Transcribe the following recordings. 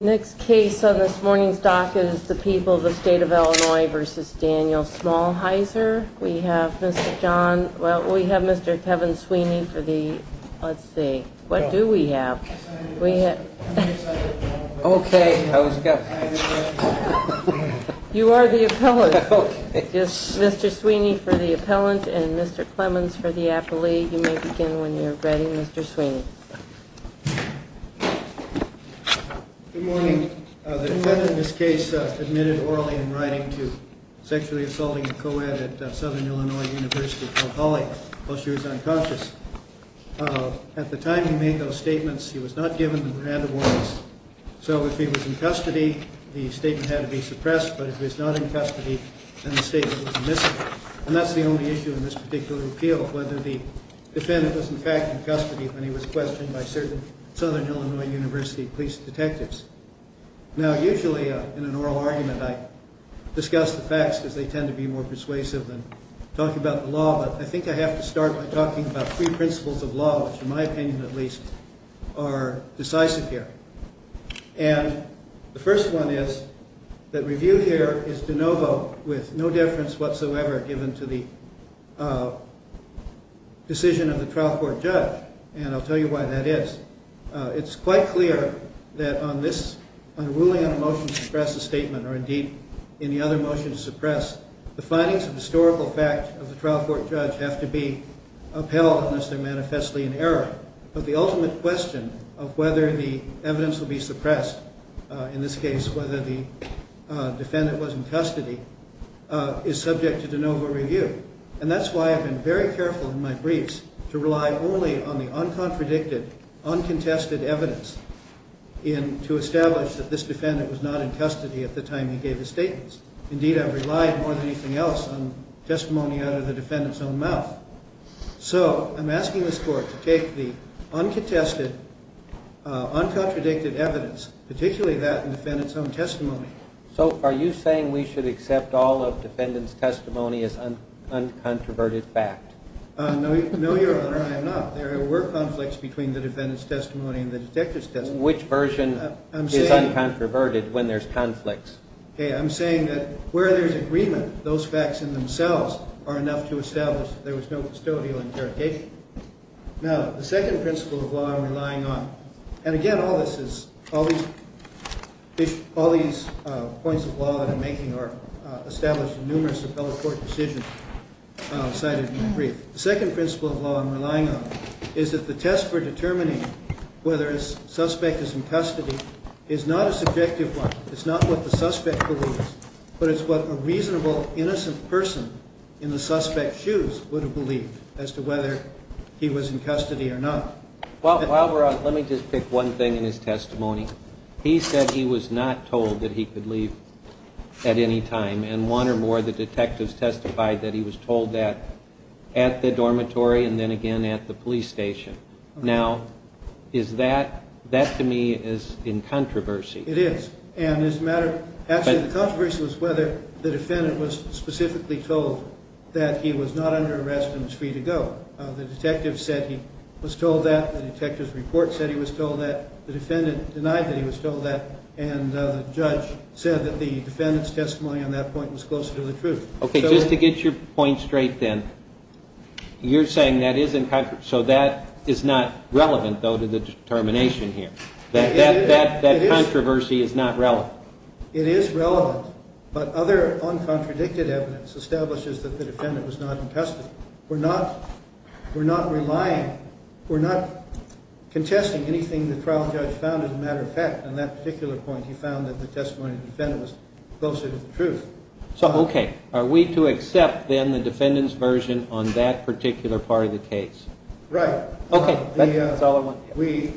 Next case on this morning's docket is the people of the state of Illinois v. Daniel Smalheiser. We have Mr. John, well we have Mr. Kevin Sweeney for the, let's see, what do we have? We have, okay, you are the appellant, Mr. Sweeney for the appellant and Mr. Clemens for the appellee. You may begin when you're ready, Mr. Sweeney. Good morning. The defendant in this case admitted orally in writing to sexually assaulting a co-ed at Southern Illinois University called Holly while she was unconscious. At the time he made those statements, he was not given the Miranda warnings, so if he was in custody, the statement had to be suppressed, but if he was not in custody, then the statement was omissive. And that's the only issue in this particular appeal, whether the defendant was in fact in custody when he was questioned by certain Southern Illinois University police detectives. Now usually in an oral argument I discuss the facts because they tend to be more persuasive than talking about the law, but I think I have to start by talking about three principles of law, which in my opinion at least are decisive here. And the first one is that review here is de novo with no difference whatsoever given to the decision of the trial court judge, and I'll tell you why that is. It's quite clear that on ruling on a motion to suppress a statement or indeed any other motion to suppress, the findings of historical fact of the trial court judge have to be upheld unless they're manifestly in error. But the ultimate question of whether the evidence will be suppressed, in this case whether the defendant was in custody, is subject to de novo review. And that's why I've been very careful in my briefs to rely only on the uncontradicted, uncontested evidence to establish that this defendant was not in custody at the time he gave his statements. Indeed I've relied more than anything else on testimony out of the defendant's own mouth. So I'm asking this court to take the uncontested, uncontradicted evidence, particularly that in the defendant's own testimony. So are you saying we should accept all of defendant's testimony as uncontroverted fact? No, your honor, I am not. There were conflicts between the defendant's testimony and the detective's testimony. Which version is uncontroverted when there's conflicts? Okay, I'm saying that where there's agreement, those facts in themselves are enough to establish there was no custodial interrogation. Now, the second principle of law I'm relying on, and again all these points of law that I'm making are established in numerous appellate court decisions cited in my brief. The second principle of law I'm relying on is that the test for determining whether a suspect is in custody is not a subjective one. It's not what the suspect believes, but it's what a reasonable, innocent person in the suspect's shoes would have believed as to whether he was in custody or not. While we're on, let me just pick one thing in his testimony. He said he was not told that he could leave at any time, and one or more of the detectives testified that he was told that at the dormitory and then again at the police station. Now, is that, that to me is in controversy. It is, and it's a matter of, actually the controversy was whether the defendant was specifically told that he was not under arrest and was free to go. The detective said he was told that. The detective's report said he was told that. The defendant denied that he was told that, and the judge said that the defendant's testimony on that point was closer to the truth. Okay, just to get your point straight then, you're saying that is in, so that is not relevant though to the determination here. That controversy is not relevant. It is relevant, but other uncontradicted evidence establishes that the defendant was not in custody. We're not, we're not relying, we're not contesting anything the trial judge found as a matter of fact. On that particular point, he found that the testimony of the defendant was closer to the truth. So, okay. Are we to accept then the defendant's version on that particular part of the case? Right. Okay. That's all I want. We,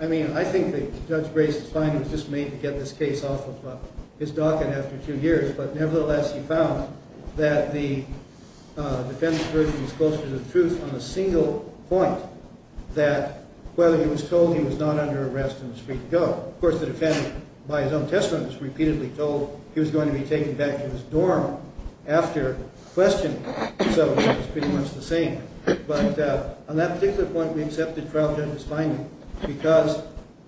I mean, I think that Judge Grayson's finding was just made to get this case off of his docket after two years, but nevertheless, he found that the defendant's version was closer to the truth on a single point, that whether he was told he was not under arrest and was free to go. Of course, the defendant, by his own testimony, was repeatedly told he was going to be taken back to his dorm after questioning. So, it's pretty much the same. But on that particular point, we accepted trial judge's finding because,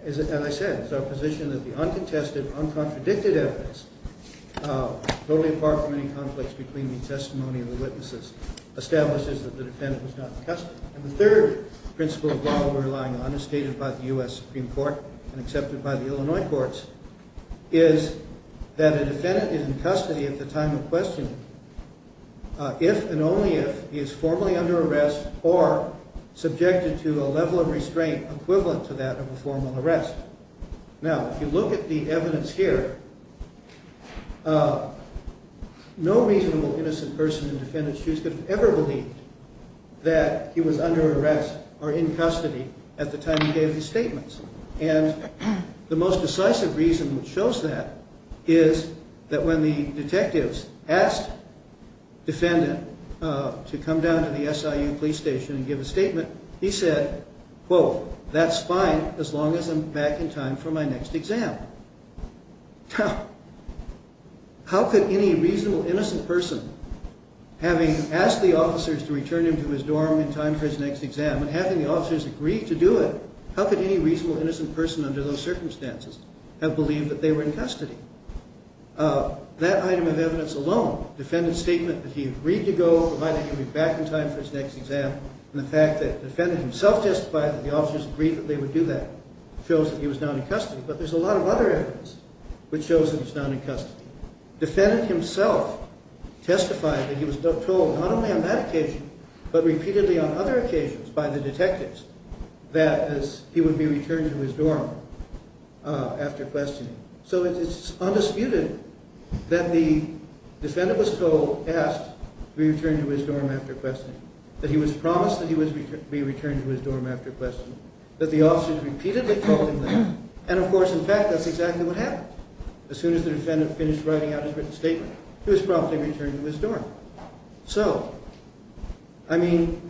as I said, it's our position that the uncontested, uncontradicted evidence, totally apart from any conflicts between the testimony and the witnesses, establishes that the defendant was not in custody. And the third principle of law we're relying on, as stated by the U.S. Supreme Court and accepted by the Illinois courts, is that a defendant is in custody at the time of questioning if and only if he is formally under arrest or subjected to a level of restraint equivalent to that of a formal arrest. Now, if you look at the evidence here, no reasonable innocent person in defendant's shoes could have ever believed that he was under arrest or in custody at the time he gave his statements. And the most decisive reason which shows that is that when the detectives asked defendant to come down to the SIU police station and give a statement, he said, quote, that's fine as long as I'm back in time for my next exam. Now, how could any reasonable innocent person, having asked the officers to return him to his dorm in time for his next exam and having the officers agree to do it, how could any reasonable innocent person under those circumstances have believed that they were in custody? That item of evidence alone, defendant's statement that he agreed to go, provided he would be back in time for his next exam and the fact that the defendant himself testified that the officers agreed that they would do that shows that he was not in custody. But there's a lot of other evidence which shows that he's not in custody. Defendant himself testified that he was told not only on that occasion, but repeatedly on other occasions by the detectives that he would be returned to his dorm after questioning. So it's undisputed that the defendant was told, asked to be returned to his dorm after questioning, that he was promised that he would be returned to his dorm after questioning, that the officers repeatedly told him that, and of course, in fact, that's exactly what happened. As soon as the defendant finished writing out his written statement, he was promptly returned to his dorm. So, I mean,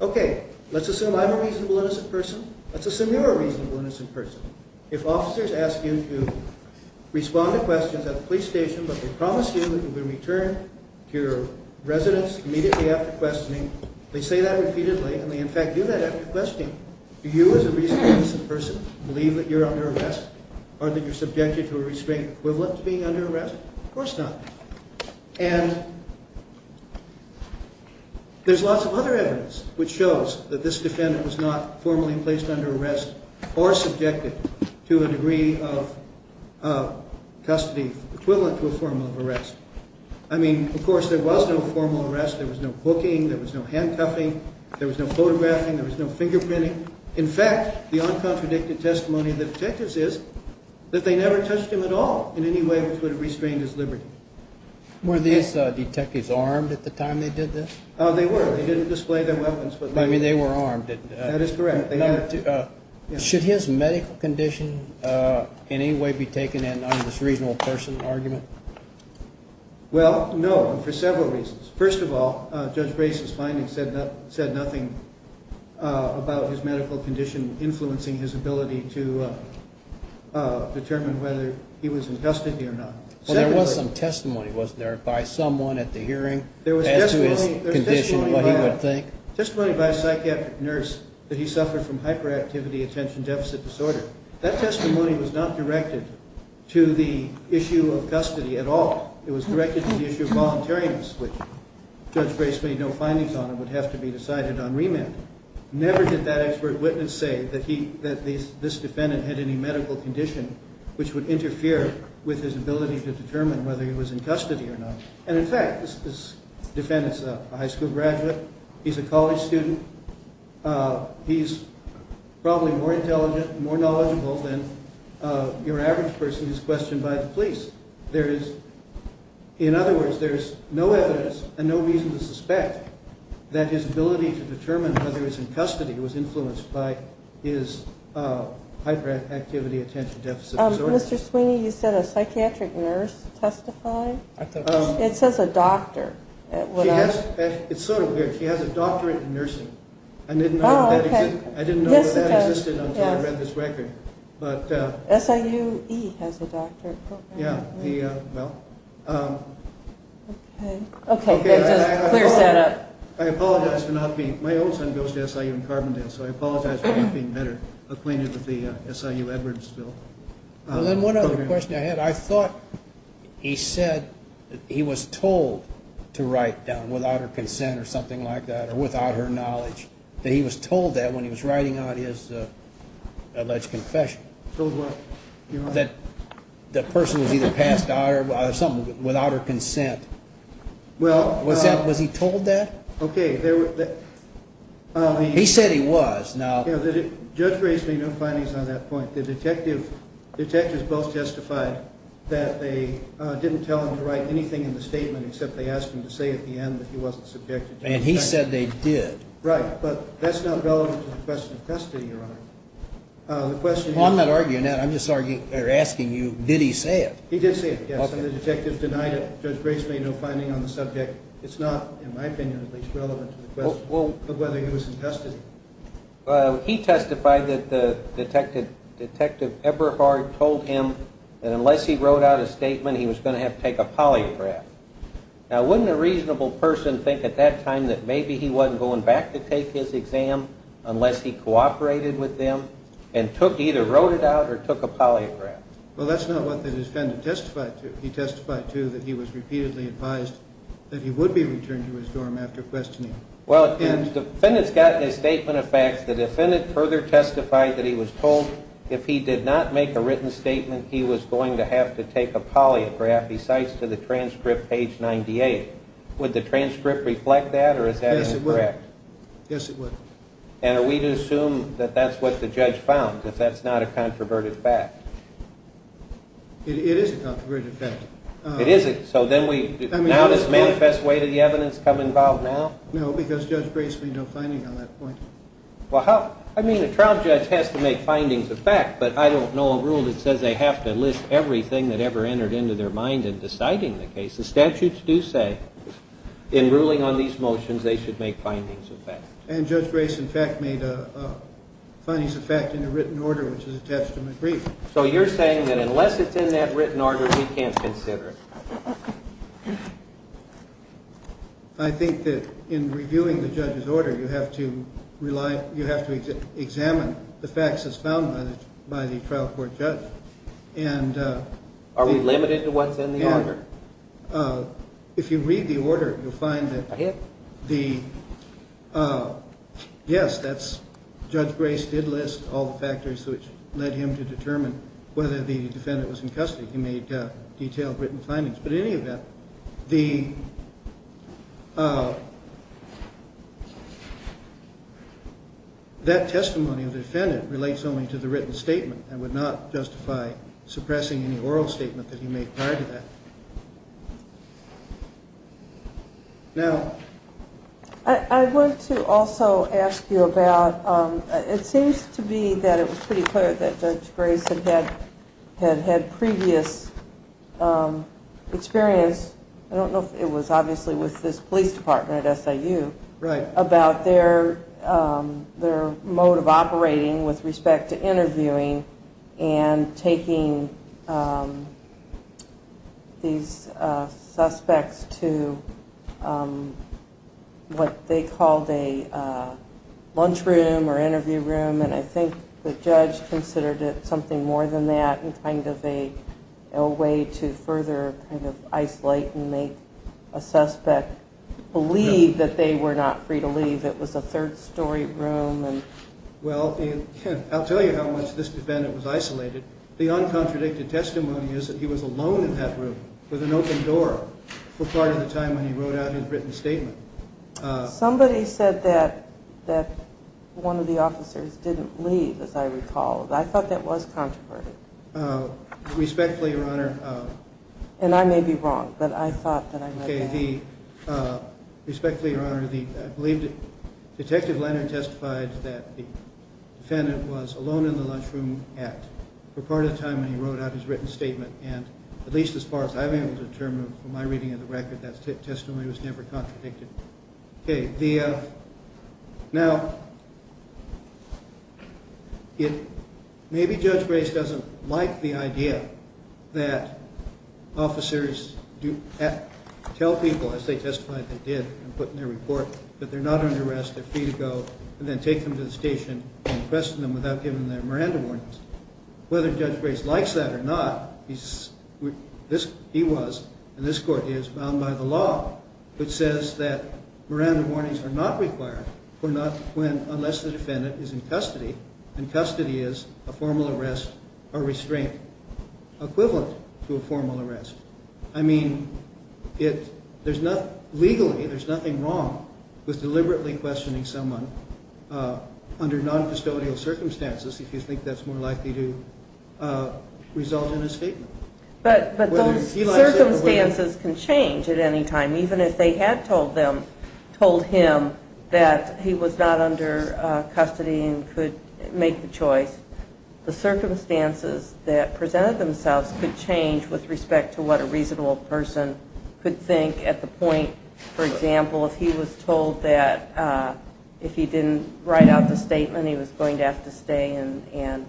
okay, let's assume I'm a reasonable innocent person. Let's assume you're a reasonable innocent person. If officers ask you to respond to questions at the police station, but they promise you that you'll be returned to your residence immediately after questioning, they say that repeatedly, and they in fact do that after questioning. Do you, as a reasonable innocent person, believe that you're under arrest? Or that you're subjected to a restraint equivalent to being under arrest? Of course not. And there's lots of other evidence which shows that this defendant was not formally placed under arrest or subjected to a degree of custody equivalent to a formal arrest. I mean, of course, there was no formal arrest. There was no booking. There was no handcuffing. There was no photographing. There was no fingerprinting. In fact, the uncontradicted testimony of the detectives is that they never touched him at all in any way which would have restrained his liberty. Were these detectives armed at the time they did this? They were. They didn't display their weapons. I mean, they were armed. That is correct. Should his medical condition in any way be taken in under this reasonable person argument? Well, no, and for several reasons. First of all, Judge Grace's findings said nothing about his medical condition influencing his ability to determine whether he was in custody or not. Well, there was some testimony, wasn't there, by someone at the hearing as to his condition and what he would think? There was testimony by a psychiatric nurse that he suffered from hyperactivity attention deficit disorder. That testimony was not directed to the issue of custody at all. It was directed to the issue of voluntariness, which Judge Grace made no findings on and would have to be decided on remand. Never did that expert witness say that this defendant had any medical condition which would interfere with his ability to determine whether he was in custody or not. And in fact, this defendant's a high school graduate. He's a college student. He's probably more intelligent, more knowledgeable than your average person who's questioned by the police. In other words, there's no evidence and no reason to suspect that his ability to determine whether he was in custody was influenced by his hyperactivity attention deficit disorder. Mr. Sweeney, you said a psychiatric nurse testified? It says a doctor. It's sort of weird. She has a doctorate in nursing. I didn't know that existed until I read this record. SIU-E has a doctorate program? Yeah. Okay. Clear setup. My old son goes to SIU in Carbondale, so I apologize for not being better acquainted with the SIU-Edwards bill. Then one other question I had. I thought he said that he was told to write down without her consent or something like that or without her knowledge, that he was told that when he was writing out his alleged confession. Told what? That the person was either passed out or something without her consent. Was he told that? Okay. He said he was. Judge raised me no findings on that point. The detectives both testified that they didn't tell him to write anything in the statement except they asked him to say at the end that he wasn't subjected to consent. And he said they did. Right, but that's not relevant to the question of custody, Your Honor. I'm not arguing that. I'm just asking you, did he say it? He did say it, yes, and the detectives denied it. Judge raised me no findings on the subject. It's not, in my opinion, at least, relevant to the question of whether he was in custody. He testified that Detective Eberhard told him that unless he wrote out a statement, he was going to have to take a polygraph. Now, wouldn't a reasonable person think at that time that maybe he wasn't going back to take his exam unless he cooperated with them and either wrote it out or took a polygraph? Well, that's not what the defendant testified to. He testified, too, that he was repeatedly advised that he would be returned to his dorm after questioning. Well, the defendant's gotten his statement of facts. The defendant further testified that he was told if he did not make a written statement, he was going to have to take a polygraph. He cites to the transcript, page 98. Would the transcript reflect that, or is that incorrect? Yes, it would. And are we to assume that that's what the judge found, if that's not a controverted fact? It is a controverted fact. It is? So now does manifest way to the evidence come involved now? No, because Judge raised me no findings on that point. Well, I mean, a trial judge has to make findings of fact, but I don't know a rule that says they have to list everything that ever entered into their mind in deciding the case. The statutes do say, in ruling on these motions, they should make findings of fact. And Judge Grace, in fact, made a findings of fact in a written order, which is attached to McBrief. So you're saying that unless it's in that written order, he can't consider it? I think that in reviewing the judge's order, you have to examine the facts that's found by the trial court judge. Are we limited to what's in the order? If you read the order, you'll find that, yes, Judge Grace did list all the factors which led him to determine whether the defendant was in custody. He made detailed written findings. But in any event, that testimony of the defendant relates only to the written statement and would not justify suppressing any oral statement that he made prior to that. Now? I wanted to also ask you about, it seems to be that it was pretty clear that Judge Grace had had previous experience, I don't know if it was obviously with this police department at SIU, about their mode of operating with respect to interviewing and taking these suspects to what they called a lunchroom or interview room. And I think the judge considered it something more than that and kind of a way to further isolate and make a suspect believe that they were not free to leave. It was a third story room. Well, I'll tell you how much this defendant was isolated. The uncontradicted testimony is that he was alone in that room with an open door for part of the time when he wrote out his written statement. Somebody said that one of the officers didn't leave, as I recall. I thought that was controversial. Respectfully, Your Honor. And I may be wrong, but I thought that I read that. Respectfully, Your Honor, I believe Detective Leonard testified that the defendant was alone in the lunchroom for part of the time when he wrote out his written statement. And at least as far as I'm able to determine from my reading of the record, that testimony was never contradicted. Okay. Now, maybe Judge Grace doesn't like the idea that officers tell people, as they testified they did and put in their report, that they're not under arrest, they're free to go, and then take them to the station and arrest them without giving them their Miranda warnings. Whether Judge Grace likes that or not, he was, and this court is, bound by the law which says that Miranda warnings are not required unless the defendant is in custody, and custody is a formal arrest or restraint equivalent to a formal arrest. I mean, legally, there's nothing wrong with deliberately questioning someone under non-custodial circumstances if you think that's more likely to result in an escapement. But those circumstances can change at any time. Even if they had told him that he was not under custody and could make the choice, the circumstances that presented themselves could change with respect to what a reasonable person could think at the point, for example, if he was told that if he didn't write out the statement he was going to have to stay and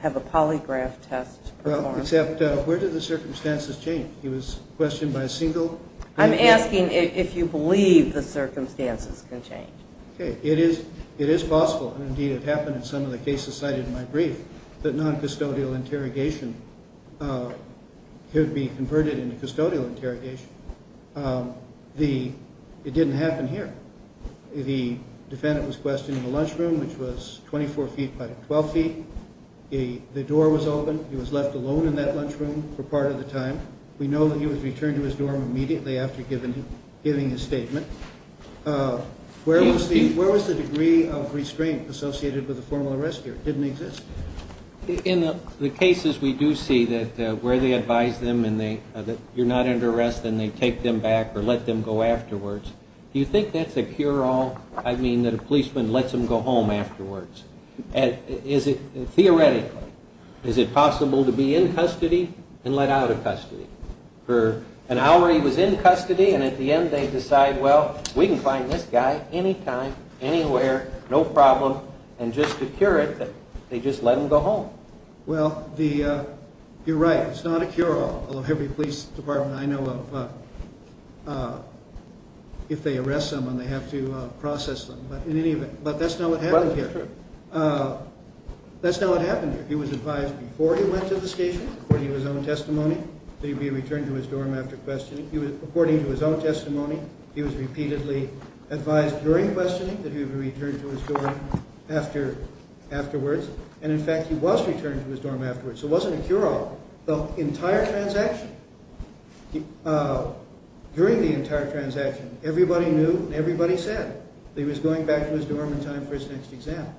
have a polygraph test performed. Except, where do the circumstances change? He was questioned by a single... I'm asking if you believe the circumstances can change. It is possible, and indeed it happened in some of the cases cited in my brief, that non-custodial interrogation could be converted into custodial interrogation. It didn't happen here. The defendant was questioned in the lunchroom, which was 24 feet by 12 feet. The door was open. He was left alone in that lunchroom for part of the time. We know that he was returned to his dorm immediately after giving his statement. Where was the degree of restraint associated with a formal arrest here? It didn't exist. In the cases we do see where they advise them that you're not under arrest and they take them back or let them go afterwards, do you think that's a cure-all? I mean that a policeman lets them go home afterwards. Theoretically, is it possible to be in custody and let out of custody? For an hour he was in custody and at the end they decide, well, we can find this guy anytime, anywhere, no problem, and just to cure it, they just let him go home. Well, you're right, it's not a cure-all. Every police department I know of, if they arrest someone, they have to process them, but that's not what happened here. That's not what happened here. He was advised before he went to the station, according to his own testimony, that he would be returned to his dorm after questioning. According to his own testimony, he was repeatedly advised during questioning that he would be returned to his dorm afterwards, and in fact he was returned to his dorm afterwards. So it wasn't a cure-all. The entire transaction, during the entire transaction, everybody knew and everybody said that he was going back to his dorm in time for his next exam.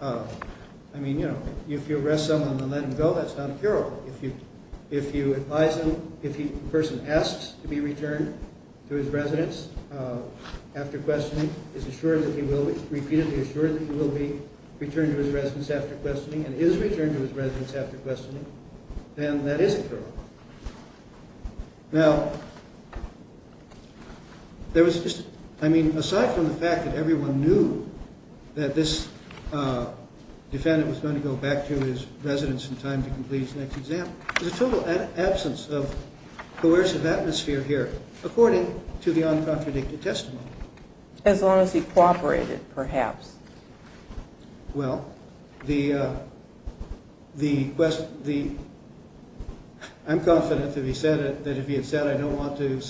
I mean, you know, if you arrest someone and let them go, that's not a cure-all. If you advise him, if the person asks to be returned to his residence after questioning, is assured that he will be, repeatedly assured that he will be returned to his residence after questioning, and is returned to his residence after questioning, then that is a cure-all. Now, there was just, I mean, aside from the fact that everyone knew that this defendant was going to go back to his residence in time to complete his next exam, there's a total absence of coercive atmosphere here, according to the uncontradicted testimony. As long as he cooperated, perhaps. Well, I'm confident that if he had said, I don't want to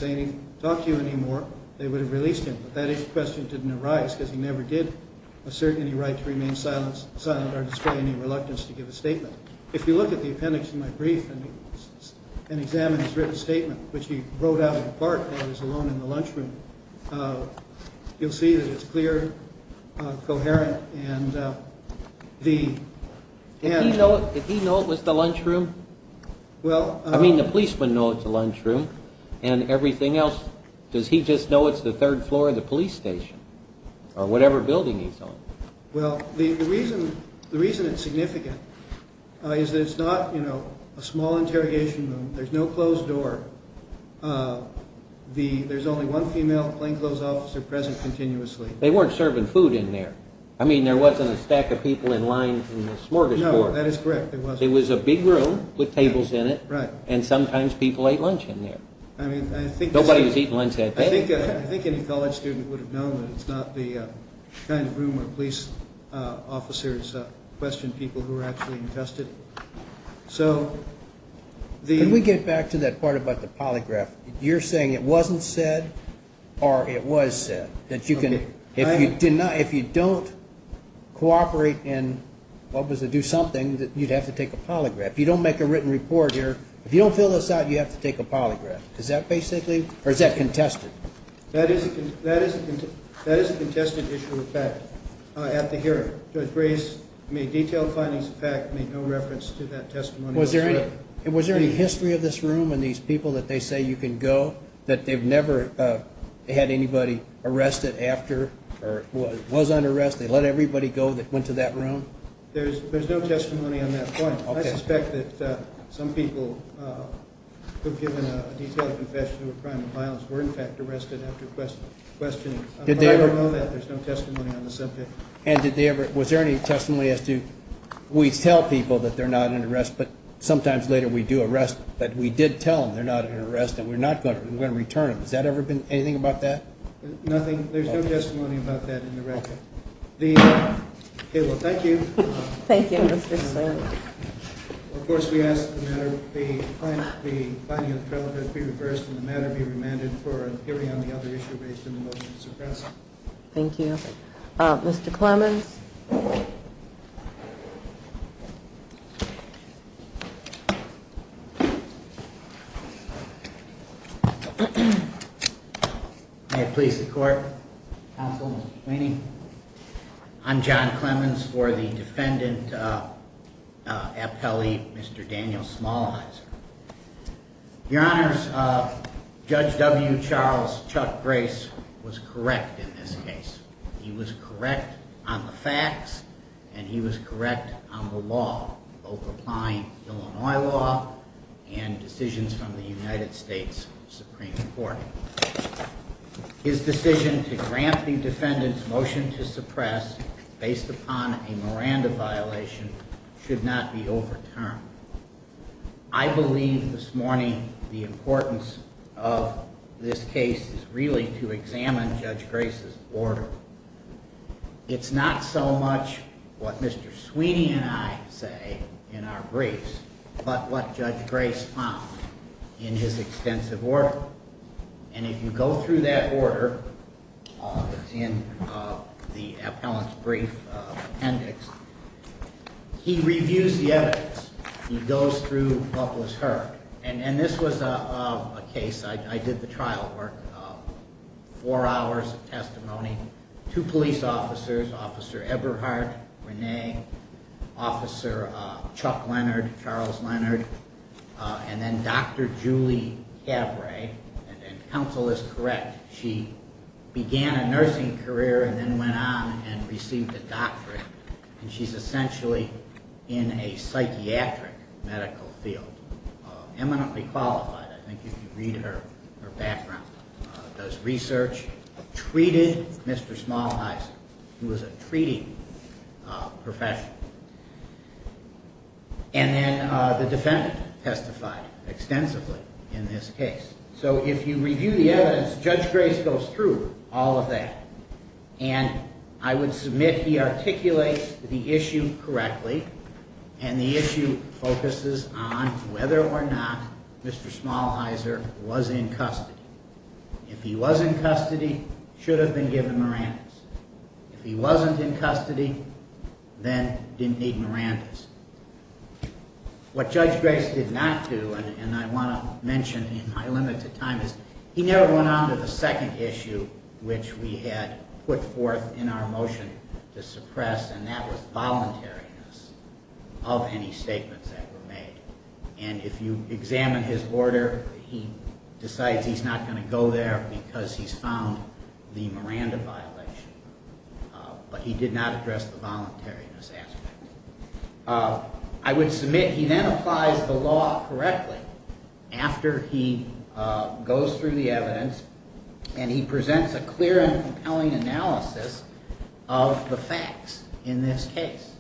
talk to you anymore, they would have released him, but that question didn't arise because he never did assert any right to remain silent or display any reluctance to give a statement. If you look at the appendix to my brief and examine his written statement, which he wrote out in part while he was alone in the lunchroom, you'll see that it's clear, coherent, and the... Did he know it was the lunchroom? I mean, the policemen know it's the lunchroom, and everything else, does he just know it's the third floor of the police station? Or whatever building he's on? Well, the reason it's significant is that it's not a small interrogation room. There's no closed door. There's only one female plainclothes officer present continuously. They weren't serving food in there. I mean, there wasn't a stack of people in line in the smorgasbord. No, that is correct, there wasn't. It was a big room with tables in it, and sometimes people ate lunch in there. Nobody was eating lunch that day. I think any college student would have known that it's not the kind of room where police officers question people who are actually invested. Can we get back to that part about the polygraph? You're saying it wasn't said, or it was said? If you don't cooperate and do something, you'd have to take a polygraph. If you don't make a written report here, if you don't fill this out, you'd have to take a polygraph. Or is that contested? That is a contested issue of fact. At the hearing, Judge Grace made detailed findings of fact, made no reference to that testimony. Was there any history of this room and these people that they say you can go, that they've never had anybody arrested after, or was under arrest, they let everybody go that went to that room? There's no testimony on that point. I suspect that some people who've given a detailed confession of a crime of violence were, in fact, arrested after questioning. I don't know that. There's no testimony on the subject. And was there any testimony as to we tell people that they're not under arrest, but sometimes later we do arrest, but we did tell them they're not under arrest and we're not going to return them. Has that ever been anything about that? Nothing. There's no testimony about that in the record. Okay, well, thank you. Thank you, Mr. Slater. Of course, we ask that the finding of the trailhead be reversed and the matter be remanded for a hearing on the other issue raised in the motion to suppress it. Thank you. Mr. Clemmons? May it please the Court, Counsel, Mr. Kleene? I'm John Clemmons for the appellee, Mr. Daniel Smallheiser. Your Honors, Judge W. Charles Chuck Grace was correct in this case. He was correct on the facts and he was correct on the law both applying Illinois law and decisions from the United States Supreme Court. His decision to grant the defendant's motion to suppress based on a Miranda violation should not be overturned. I believe this morning the importance of this case is really to examine Judge Grace's order. It's not so much what Mr. Sweeney and I say in our briefs, but what Judge Grace found in his extensive order. And if you go through that order in the appellant's brief appendix, he reviews the evidence. He goes through what was heard. And this was a case, I did the trial work, four hours of testimony, two police officers, Officer Eberhardt, Renee, Officer Chuck Leonard, Charles Leonard, and then Dr. Julie Cabret. And counsel is correct. She began a nursing career and then went on and received a doctorate. And she's essentially in a psychiatric medical field. Eminently qualified. I think you can read her background. Does research. Treated Mr. Smallheiser. He was a treating professional. And then the defendant testified extensively in this case. So if you review the evidence, Judge Grace goes through all of that. And I would submit he articulates the issue correctly. And the issue focuses on whether or not Mr. Smallheiser was in custody. If he was in custody, should have been given Miranda's. If he wasn't in custody, then didn't need Miranda's. What Judge Grace did not do and I want to mention in my limited time is he never went on to the second issue which we had put forth in our motion to suppress and that was voluntariness of any statements that were made. And if you examine his order, he decides he's not going to go there because he's found the Miranda violation. But he did not address the voluntariness aspect. I would submit he then applies the law correctly after he goes through the evidence and he presents a clear and compelling analysis of the facts in this case.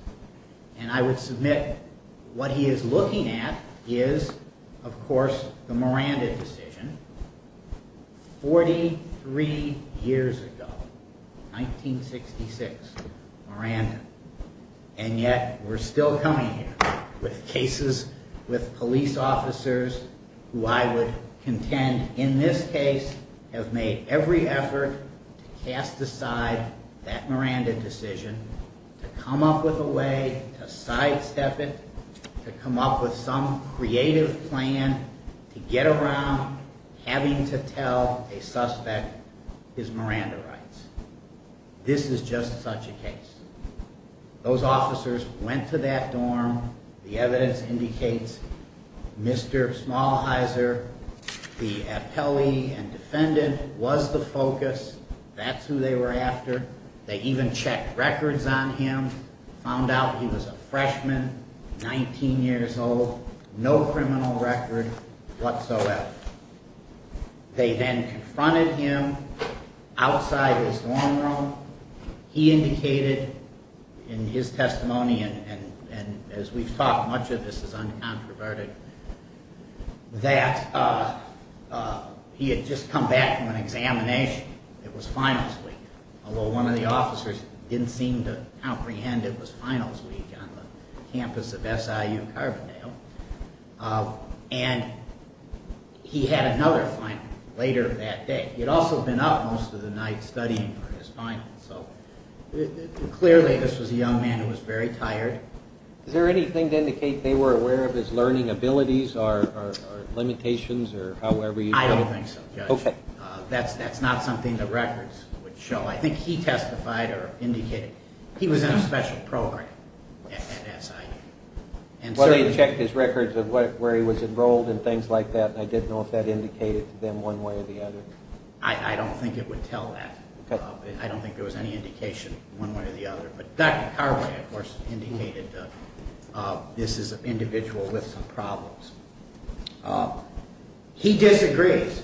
And I would submit what he is looking at is of course the Miranda decision 43 years ago. 1966. Miranda. And yet we're still coming here with cases with police officers who I would contend in this case have made every effort to cast aside that Miranda decision to come up with a way to sidestep it to come up with some creative plan to get around having to tell a suspect his Miranda rights. This is just such a case. Those officers went to that dorm. The evidence indicates Mr. Smallhizer the appellee and defendant was the focus. That's who they were after. They even checked records on him. Found out he was a freshman, 19 years old. No criminal record whatsoever. They then confronted him outside his dorm room He indicated in his testimony and as we've talked much of this is uncontroverted that he had just come back from an examination. It was finals week. Although one of the officers didn't seem to comprehend it was finals week on the campus of SIU and he had another final later that day. He had also been up most of the night studying for his finals. Clearly this was a young man who was very tired. Is there anything to indicate they were aware of his learning abilities or limitations? I don't think so. That's not something the records would show. I think he testified or indicated he was in a special program at SIU. Well he checked his records of where he was enrolled and things like that. I didn't know if that indicated to them one way or the other. I don't think it would tell that. I don't think there was any indication one way or the other. Dr. Carway of course indicated this is an individual with some problems. He disagrees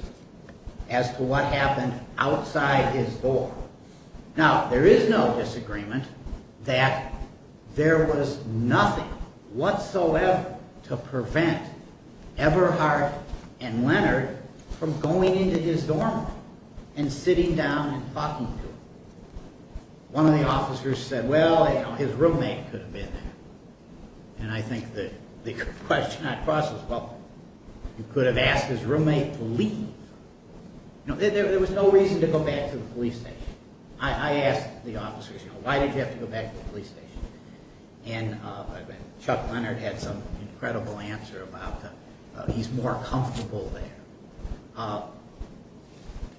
as to what happened outside his dorm. Now there is no disagreement that there was nothing whatsoever to prevent Everhart and Leonard from going into his dorm room and sitting down and talking to him. One of the officers said well his roommate could have been there. And I think the question I cross is you could have asked his roommate to leave. There was no reason to go back to the police station. I asked the officers, why did you have to go back to the police station? And Chuck Leonard had some incredible answer about that. He's more comfortable there.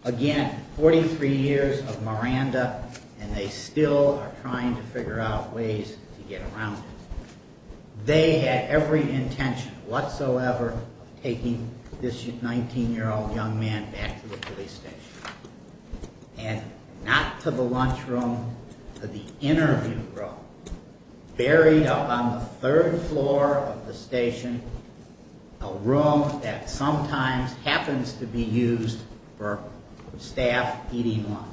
Again, 43 years of Miranda and they still are trying to figure out ways to get around it. They had every intention whatsoever of taking this 19 year old young man back to the police station. And not to the lunchroom but the interview room. Buried up on the third floor of the station a room that sometimes happens to be used for staff eating lunch.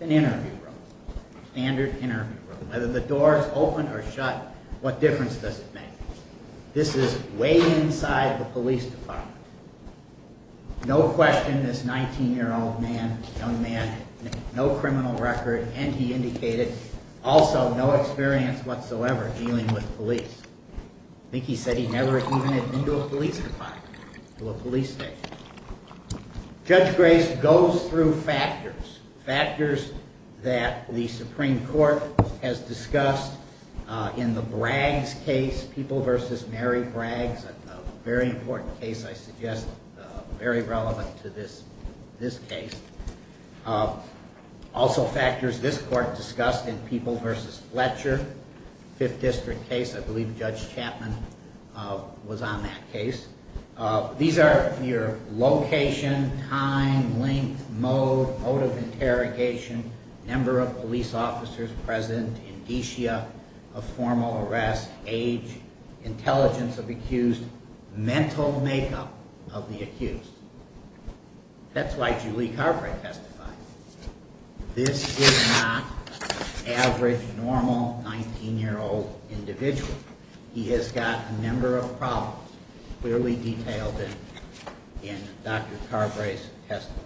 An interview room. Standard interview room. Whether the door is open or shut what difference does it make? This is way inside the police department. No question this 19 year old man, young man, no criminal record and he indicated also no experience whatsoever dealing with police. I think he said he never even had been to a police department or a police station. Judge Grace goes through factors. Factors that the Supreme Court has discussed in the Braggs case. People vs. Mary Braggs, a very important case I suggest very relevant to this case. Also factors this court discussed in People vs. Fletcher 5th District case. I believe Judge Chapman was on that case. These are your location, time, length, mode mode of interrogation, number of police officers present, indicia of formal arrest, age, intelligence of accused mental makeup of the accused. That's why Julie Carbrae testified. This is not average normal 19 year old individual. He has got a number of problems clearly detailed in Dr. Carbrae's testimony.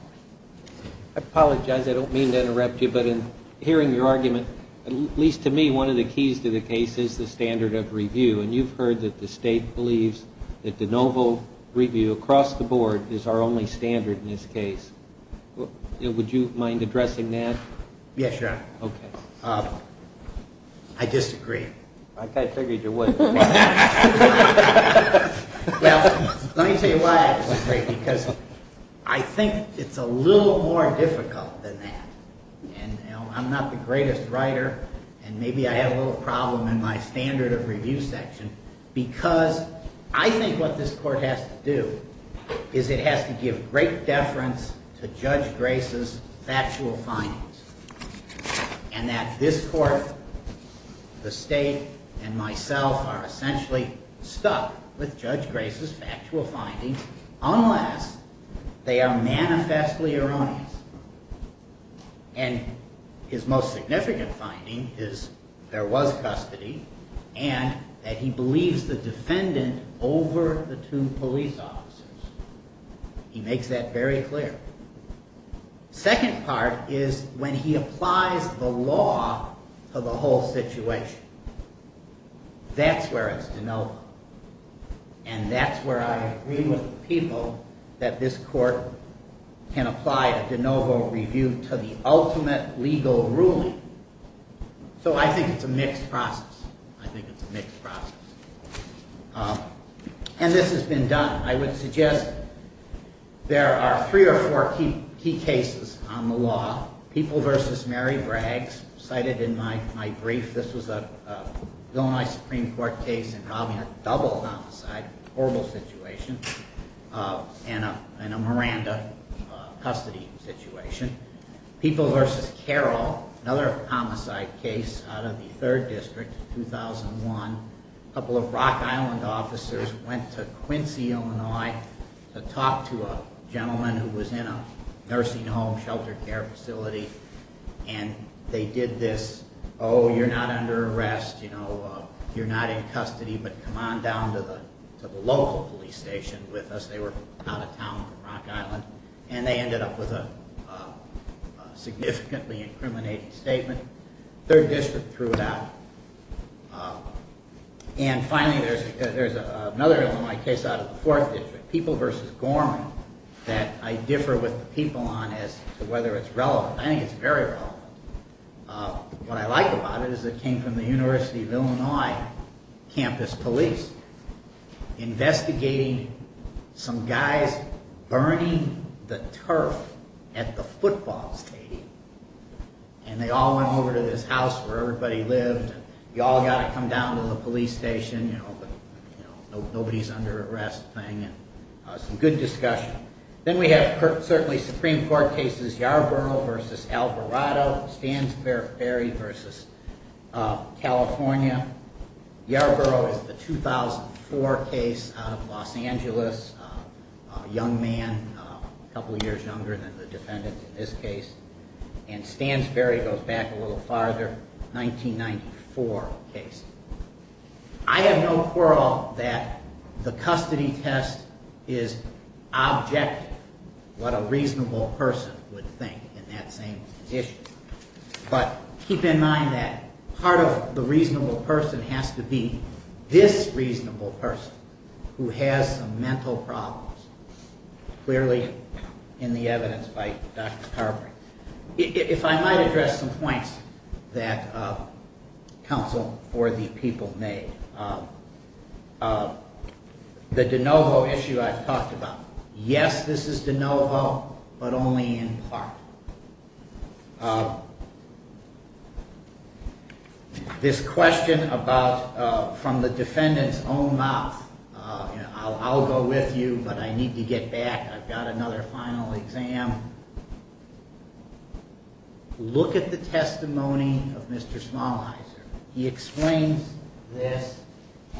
I apologize, I don't mean to interrupt you but in hearing your argument at least to me one of the keys to the case is the standard of review. You've heard that the state believes that de novo review across the board is our only standard in this case. Would you mind addressing that? Yes, Your Honor. I disagree. I figured you would. Let me tell you why I disagree. I think it's a little more difficult than that. I'm not the greatest writer and maybe I have a little problem in my standard of review section because I think what this court has to do is it has to give great deference to Judge Grace's factual findings and that this court, the state, and myself are essentially stuck with Judge Grace's factual findings unless they are manifestly erroneous and his most significant finding is there was custody and that he believes the defendant over the two police officers. He makes that very clear. Second part is when he applies the law to the whole situation. That's where it's de novo and that's where I agree with people that this court can apply a de novo review to the ultimate legal ruling. So I think it's a mixed process. And this has been done. I would suggest there are three or four key cases on the law. People vs. Mary Braggs cited in my brief. This was a Supreme Court case involving a double homicide horrible situation and a Miranda custody situation. People vs. Carroll, another homicide case out of the 3rd district, 2001. A couple of Rock Island officers went to Quincy, Illinois to talk to a gentleman who was in a nursing home, shelter care facility and they did this oh you're not under arrest, you're not in custody but come on down to the local police station with us. They were out of town in Rock Island and they ended up with a significantly incriminating statement. The 3rd district threw it out. And finally there's another case out of the 4th district. People vs. Gorman that I differ with the people on as to whether it's relevant. I think it's very relevant. What I like about it is it came from the University of Illinois campus police investigating some guys burning the turf at the football stadium and they all went over to this house where everybody lived. You all got to come down to the police station. Nobody's under arrest thing. Some good discussion. Then we have certainly Supreme Court cases Yarborough vs. Alvarado Stansberry vs. California. Yarborough is the 2004 case out of Los Angeles young man, a couple years younger than the defendant in this case and Stansberry goes back a little farther 1994 case. I have no quarrel that the custody test is objective what a reasonable person would think in that same position but keep in mind that part of the reasonable person has to be this reasonable person who has some mental problems clearly in the evidence by Dr. Carver. If I might address some points that counsel for the people made the de novo issue I've talked about. Yes this is de novo but only in part this question about from the defendant's own mouth. I'll go with you but I need to get back. I've got another final exam look at the testimony of Mr. Smalliser he explains this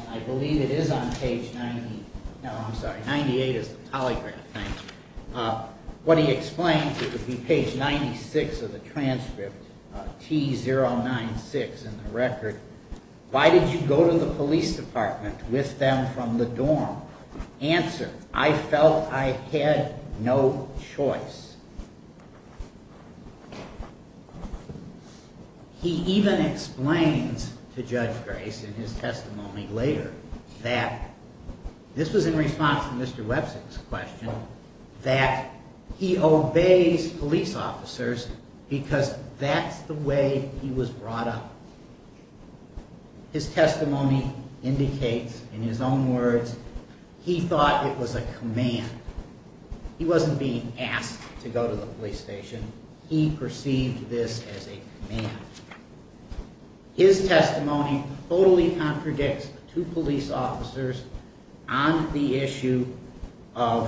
I believe it is on page 98 what he explains page 96 of the transcript T096 in the record why did you go to the police department with them from the dorm? Answer I felt I had no choice he even explains to Judge Grace in his testimony later that this was in response to Mr. Webster's question that he obeys police officers because that's the way he was brought up his testimony indicates in his own words he thought it was a command he wasn't being asked to go to the police station he perceived this as a command his testimony totally contradicts the two police officers on the issue of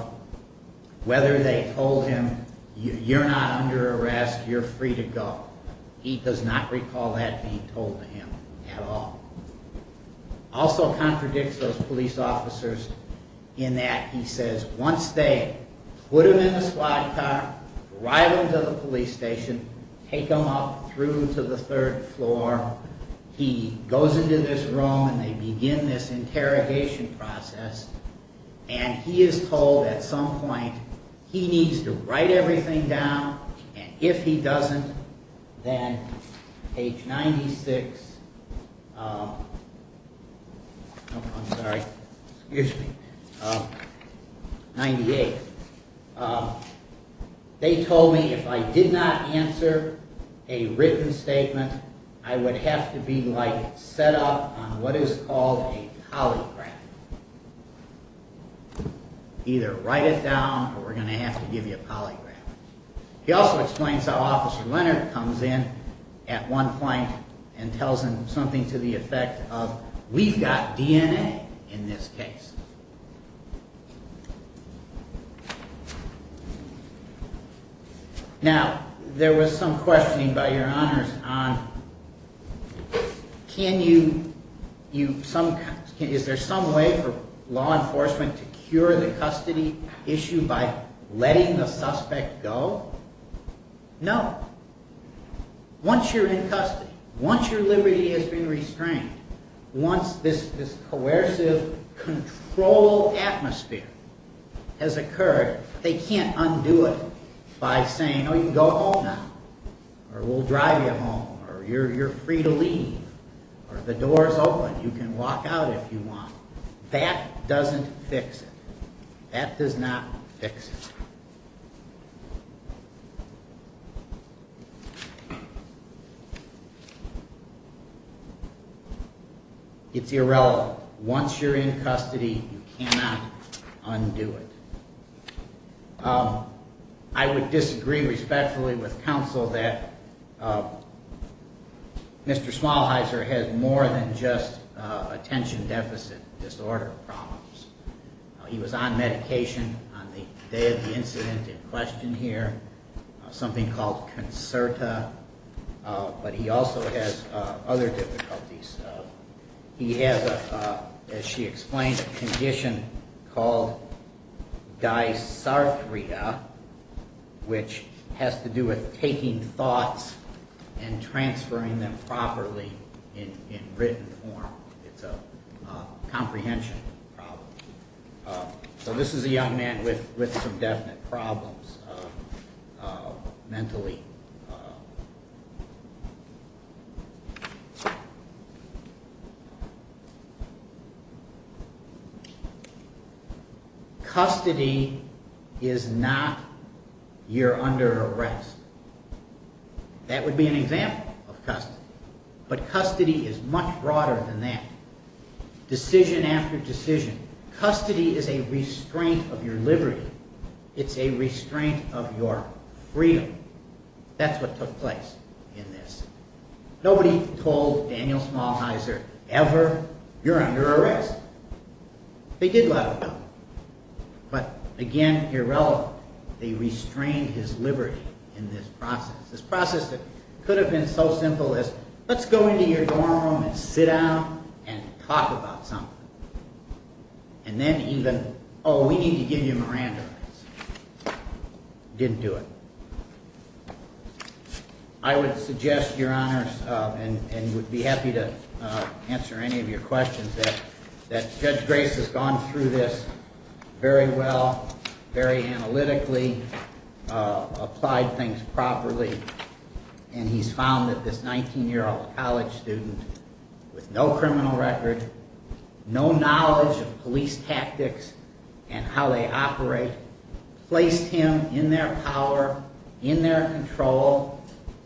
whether they told him you're not under arrest you're free to go he does not recall that being told to him at all also contradicts those police officers in that he says once they put him in a squad car, drive him to the police station take him up through to the third floor he goes into this room and they begin this interrogation process and he is told at some point he needs to write everything down and if he doesn't then page 96 I'm sorry 98 they told me if I did not answer a written statement I would have to be like set up on what is called a polygraph either write it down or we're going to have to give you a polygraph he also explains how Officer Leonard comes in at one point and tells him something to the effect of we've got DNA in this case now there was some questioning by your honors on can you is there some way for law enforcement to cure the custody issue by letting the suspect go no once you're in custody once your liberty has been restrained once this coercive control atmosphere has occurred they can't undo it by saying you can go home now or we'll drive you home or you're free to leave or the door is open you can walk out if you want that doesn't fix it that does not fix it it's irrelevant once you're in custody you cannot undo it I would disagree respectfully with counsel that Mr. Smallheiser has more than just attention deficit disorder problems he was on medication on the day of the incident in question here something called concerta but he also has other difficulties he has as she explained a condition called dysarthria which has to do with taking thoughts and transferring them properly in written form it's a comprehension problem so this is a young man with some definite problems mentally custody is not you're under arrest that would be an example but custody is much broader than that decision after decision custody is a restraint of your liberty it's a restraint of your freedom that's what took place nobody told Daniel Smallheiser ever you're under arrest they did let him go but again irrelevant they restrained his liberty this process could have been so simple let's go into your dorm and sit down and talk about something and then even oh we need to give you a Miranda didn't do it I would suggest your honors and would be happy to answer any of your questions Judge Grace has gone through this very well, very analytically applied things properly and he's found that this 19 year old college student with no criminal record no knowledge of police tactics and how they operate placed him in their power in their control,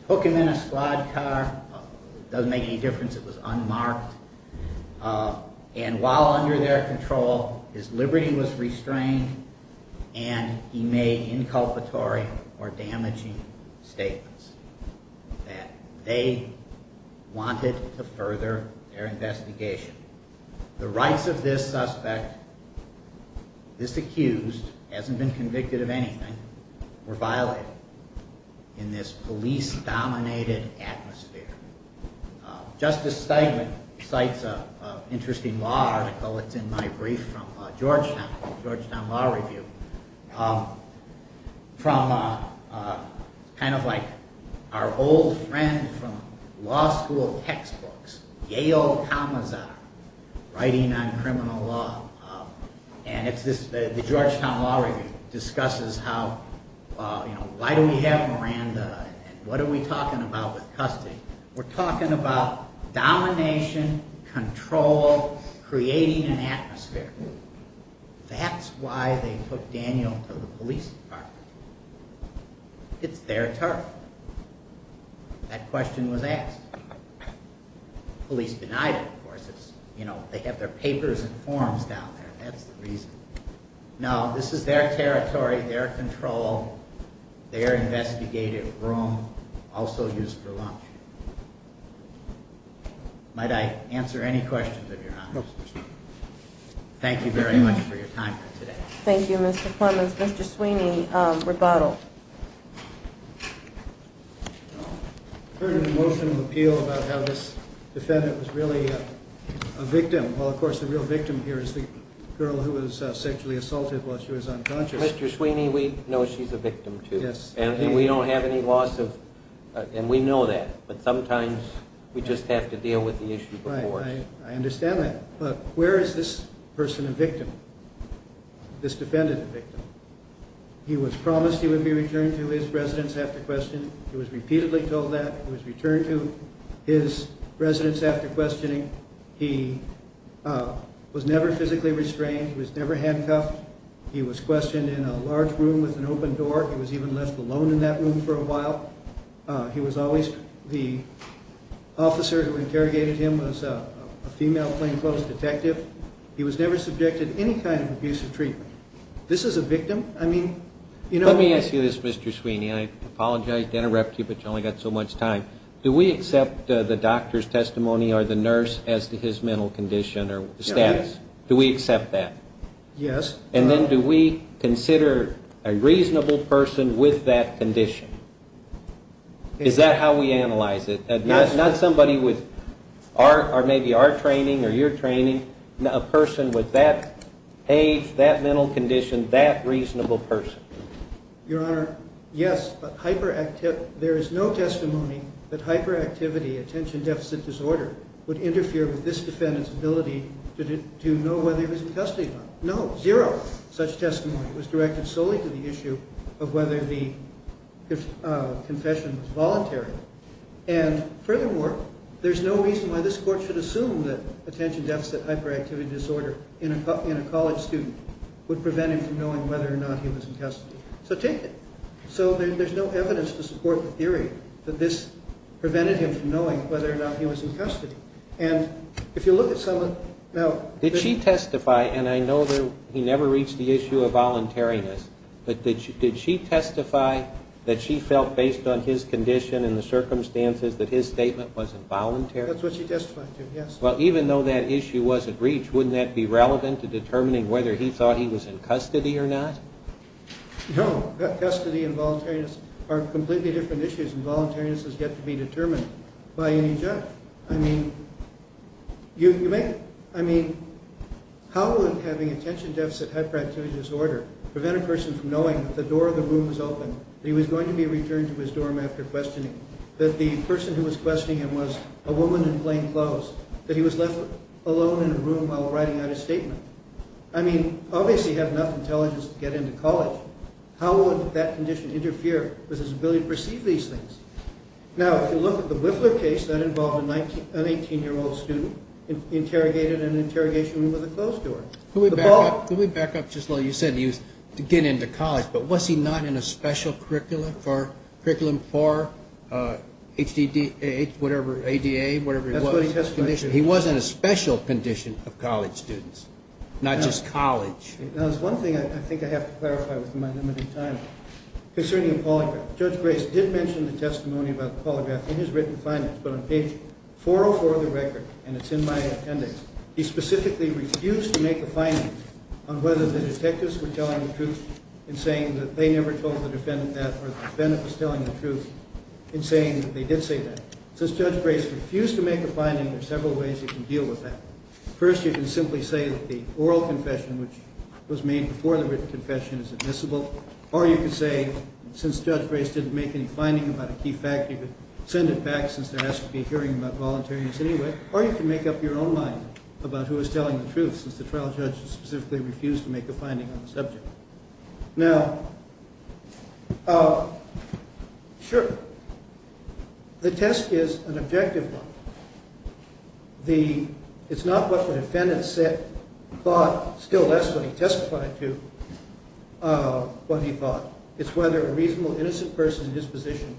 took him in a squad car doesn't make any difference it was unmarked and while under their control his liberty was restrained and he made inculpatory or damaging statements that they wanted to further their investigation the rights of this suspect this accused hasn't been convicted of anything were violated in this police dominated atmosphere Justice Steigman cites an interesting law article it's in my brief from Georgetown Law Review from kind of like our old friend from law school textbooks Yale Commissar writing on criminal law and the Georgetown Law Review discusses how why do we have Miranda and what are we talking about with custody we're talking about domination control, creating an atmosphere that's why they took Daniel to the police department that question was asked police denied it of course they have their papers and forms down there that's the reason now this is their territory, their control their investigative room also used for lunch might I answer any questions if you're honest thank you very much for your time today thank you Mr. Plumas Mr. Sweeney, rebuttal I heard an emotional appeal about how this defendant was really a victim, well of course the real victim here is the girl who was sexually assaulted while she was unconscious Mr. Sweeney, we know she's a victim too and we don't have any loss of, and we know that but sometimes we just have to deal with the issue before us this defendant a victim he was promised he would be returned to his residence after questioning, he was repeatedly told that he was returned to his residence after questioning he was never physically restrained he was never handcuffed he was questioned in a large room with an open door he was even left alone in that room for a while he was always, the officer who interrogated him was a female plainclothes detective he was never subjected to any kind of abusive treatment this is a victim, I mean let me ask you this Mr. Sweeney, and I apologize to interrupt you but you've only got so much time, do we accept the doctor's testimony or the nurse as his mental condition or status do we accept that? Yes and then do we consider a reasonable person with that condition? is that how we analyze it? not somebody with, maybe our training or your training, a person with that age, that mental condition, that reasonable person your honor, yes there is no testimony that hyperactivity attention deficit disorder would interfere with this defendant's ability to know whether he was in custody no, zero, such testimony was directed solely to the issue of whether the furthermore, there's no reason why this court should assume that attention deficit hyperactivity disorder in a college student would prevent him from knowing whether or not he was in custody, so take it, so there's no evidence to support the theory that this prevented him from knowing whether or not he was in custody and if you look at someone, now, did she testify and I know he never reached the issue of voluntariness but did she testify that she felt based on his condition and the circumstances that his statement was involuntary? that's what she testified to, yes well even though that issue wasn't reached, wouldn't that be relevant to determining whether he thought he was in custody or not? no, custody and voluntariness are completely different issues and voluntariness has yet to be determined by any judge, I mean how would having attention deficit hyperactivity disorder prevent a person from knowing that the door of the room was open, that he was going to be returned to his dorm after questioning, that the person who was questioning him was a woman in plain clothes, that he was left alone in a room while writing out his statement I mean, obviously he had enough intelligence to get into college how would that condition interfere with his ability to perceive these things? now, if you look at the Wiffler case that involved an 18 year old student interrogated in an interrogation room with a closed door can we back up just a little, you said he was to get into college, but was he not in a special curriculum for HDDA, whatever ADA, whatever he was he was in a special condition of college students not just college now there's one thing I think I have to clarify within my limited time concerning the polygraph, Judge Grace did mention the testimony about the polygraph in his written findings, but on page 404 of the record and it's in my appendix, he specifically refused to make a finding on whether the detectives were telling the truth in saying that they never told the defendant that or the defendant was telling the truth, in saying that they did say that since Judge Grace refused to make a finding, there are several ways you can deal with that, first you can simply say that the oral confession, which was made before the written confession is admissible, or you can say, since Judge Grace didn't make any finding about a key fact, you could send it back since there has to be a hearing about voluntariness anyway, or you can make up your own mind about who was telling the truth, since the trial judge specifically refused to make a finding on the subject now sure, the test is an objective one it's not what the defendant thought still that's what he testified to what he thought, it's whether a reasonable innocent person in his position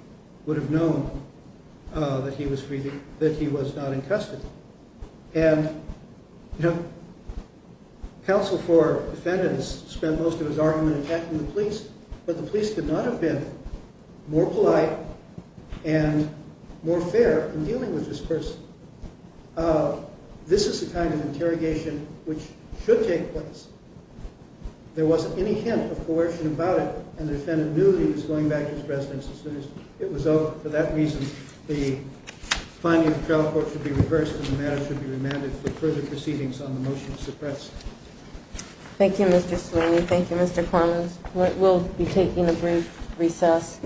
would have known that he was not in custody and counsel for defendants spent most of his argument attacking the police but the police could not have been more polite and more fair in dealing with this person this is the kind of interrogation which should take place there wasn't any hint of coercion and the defendant knew he was going back to his residence it was over, for that reason the finding of the trial court should be reversed and the matter should be remanded for further proceedings on the motion to suppress thank you Mr. Sweeney, thank you Mr. Cormans we'll be taking a brief recess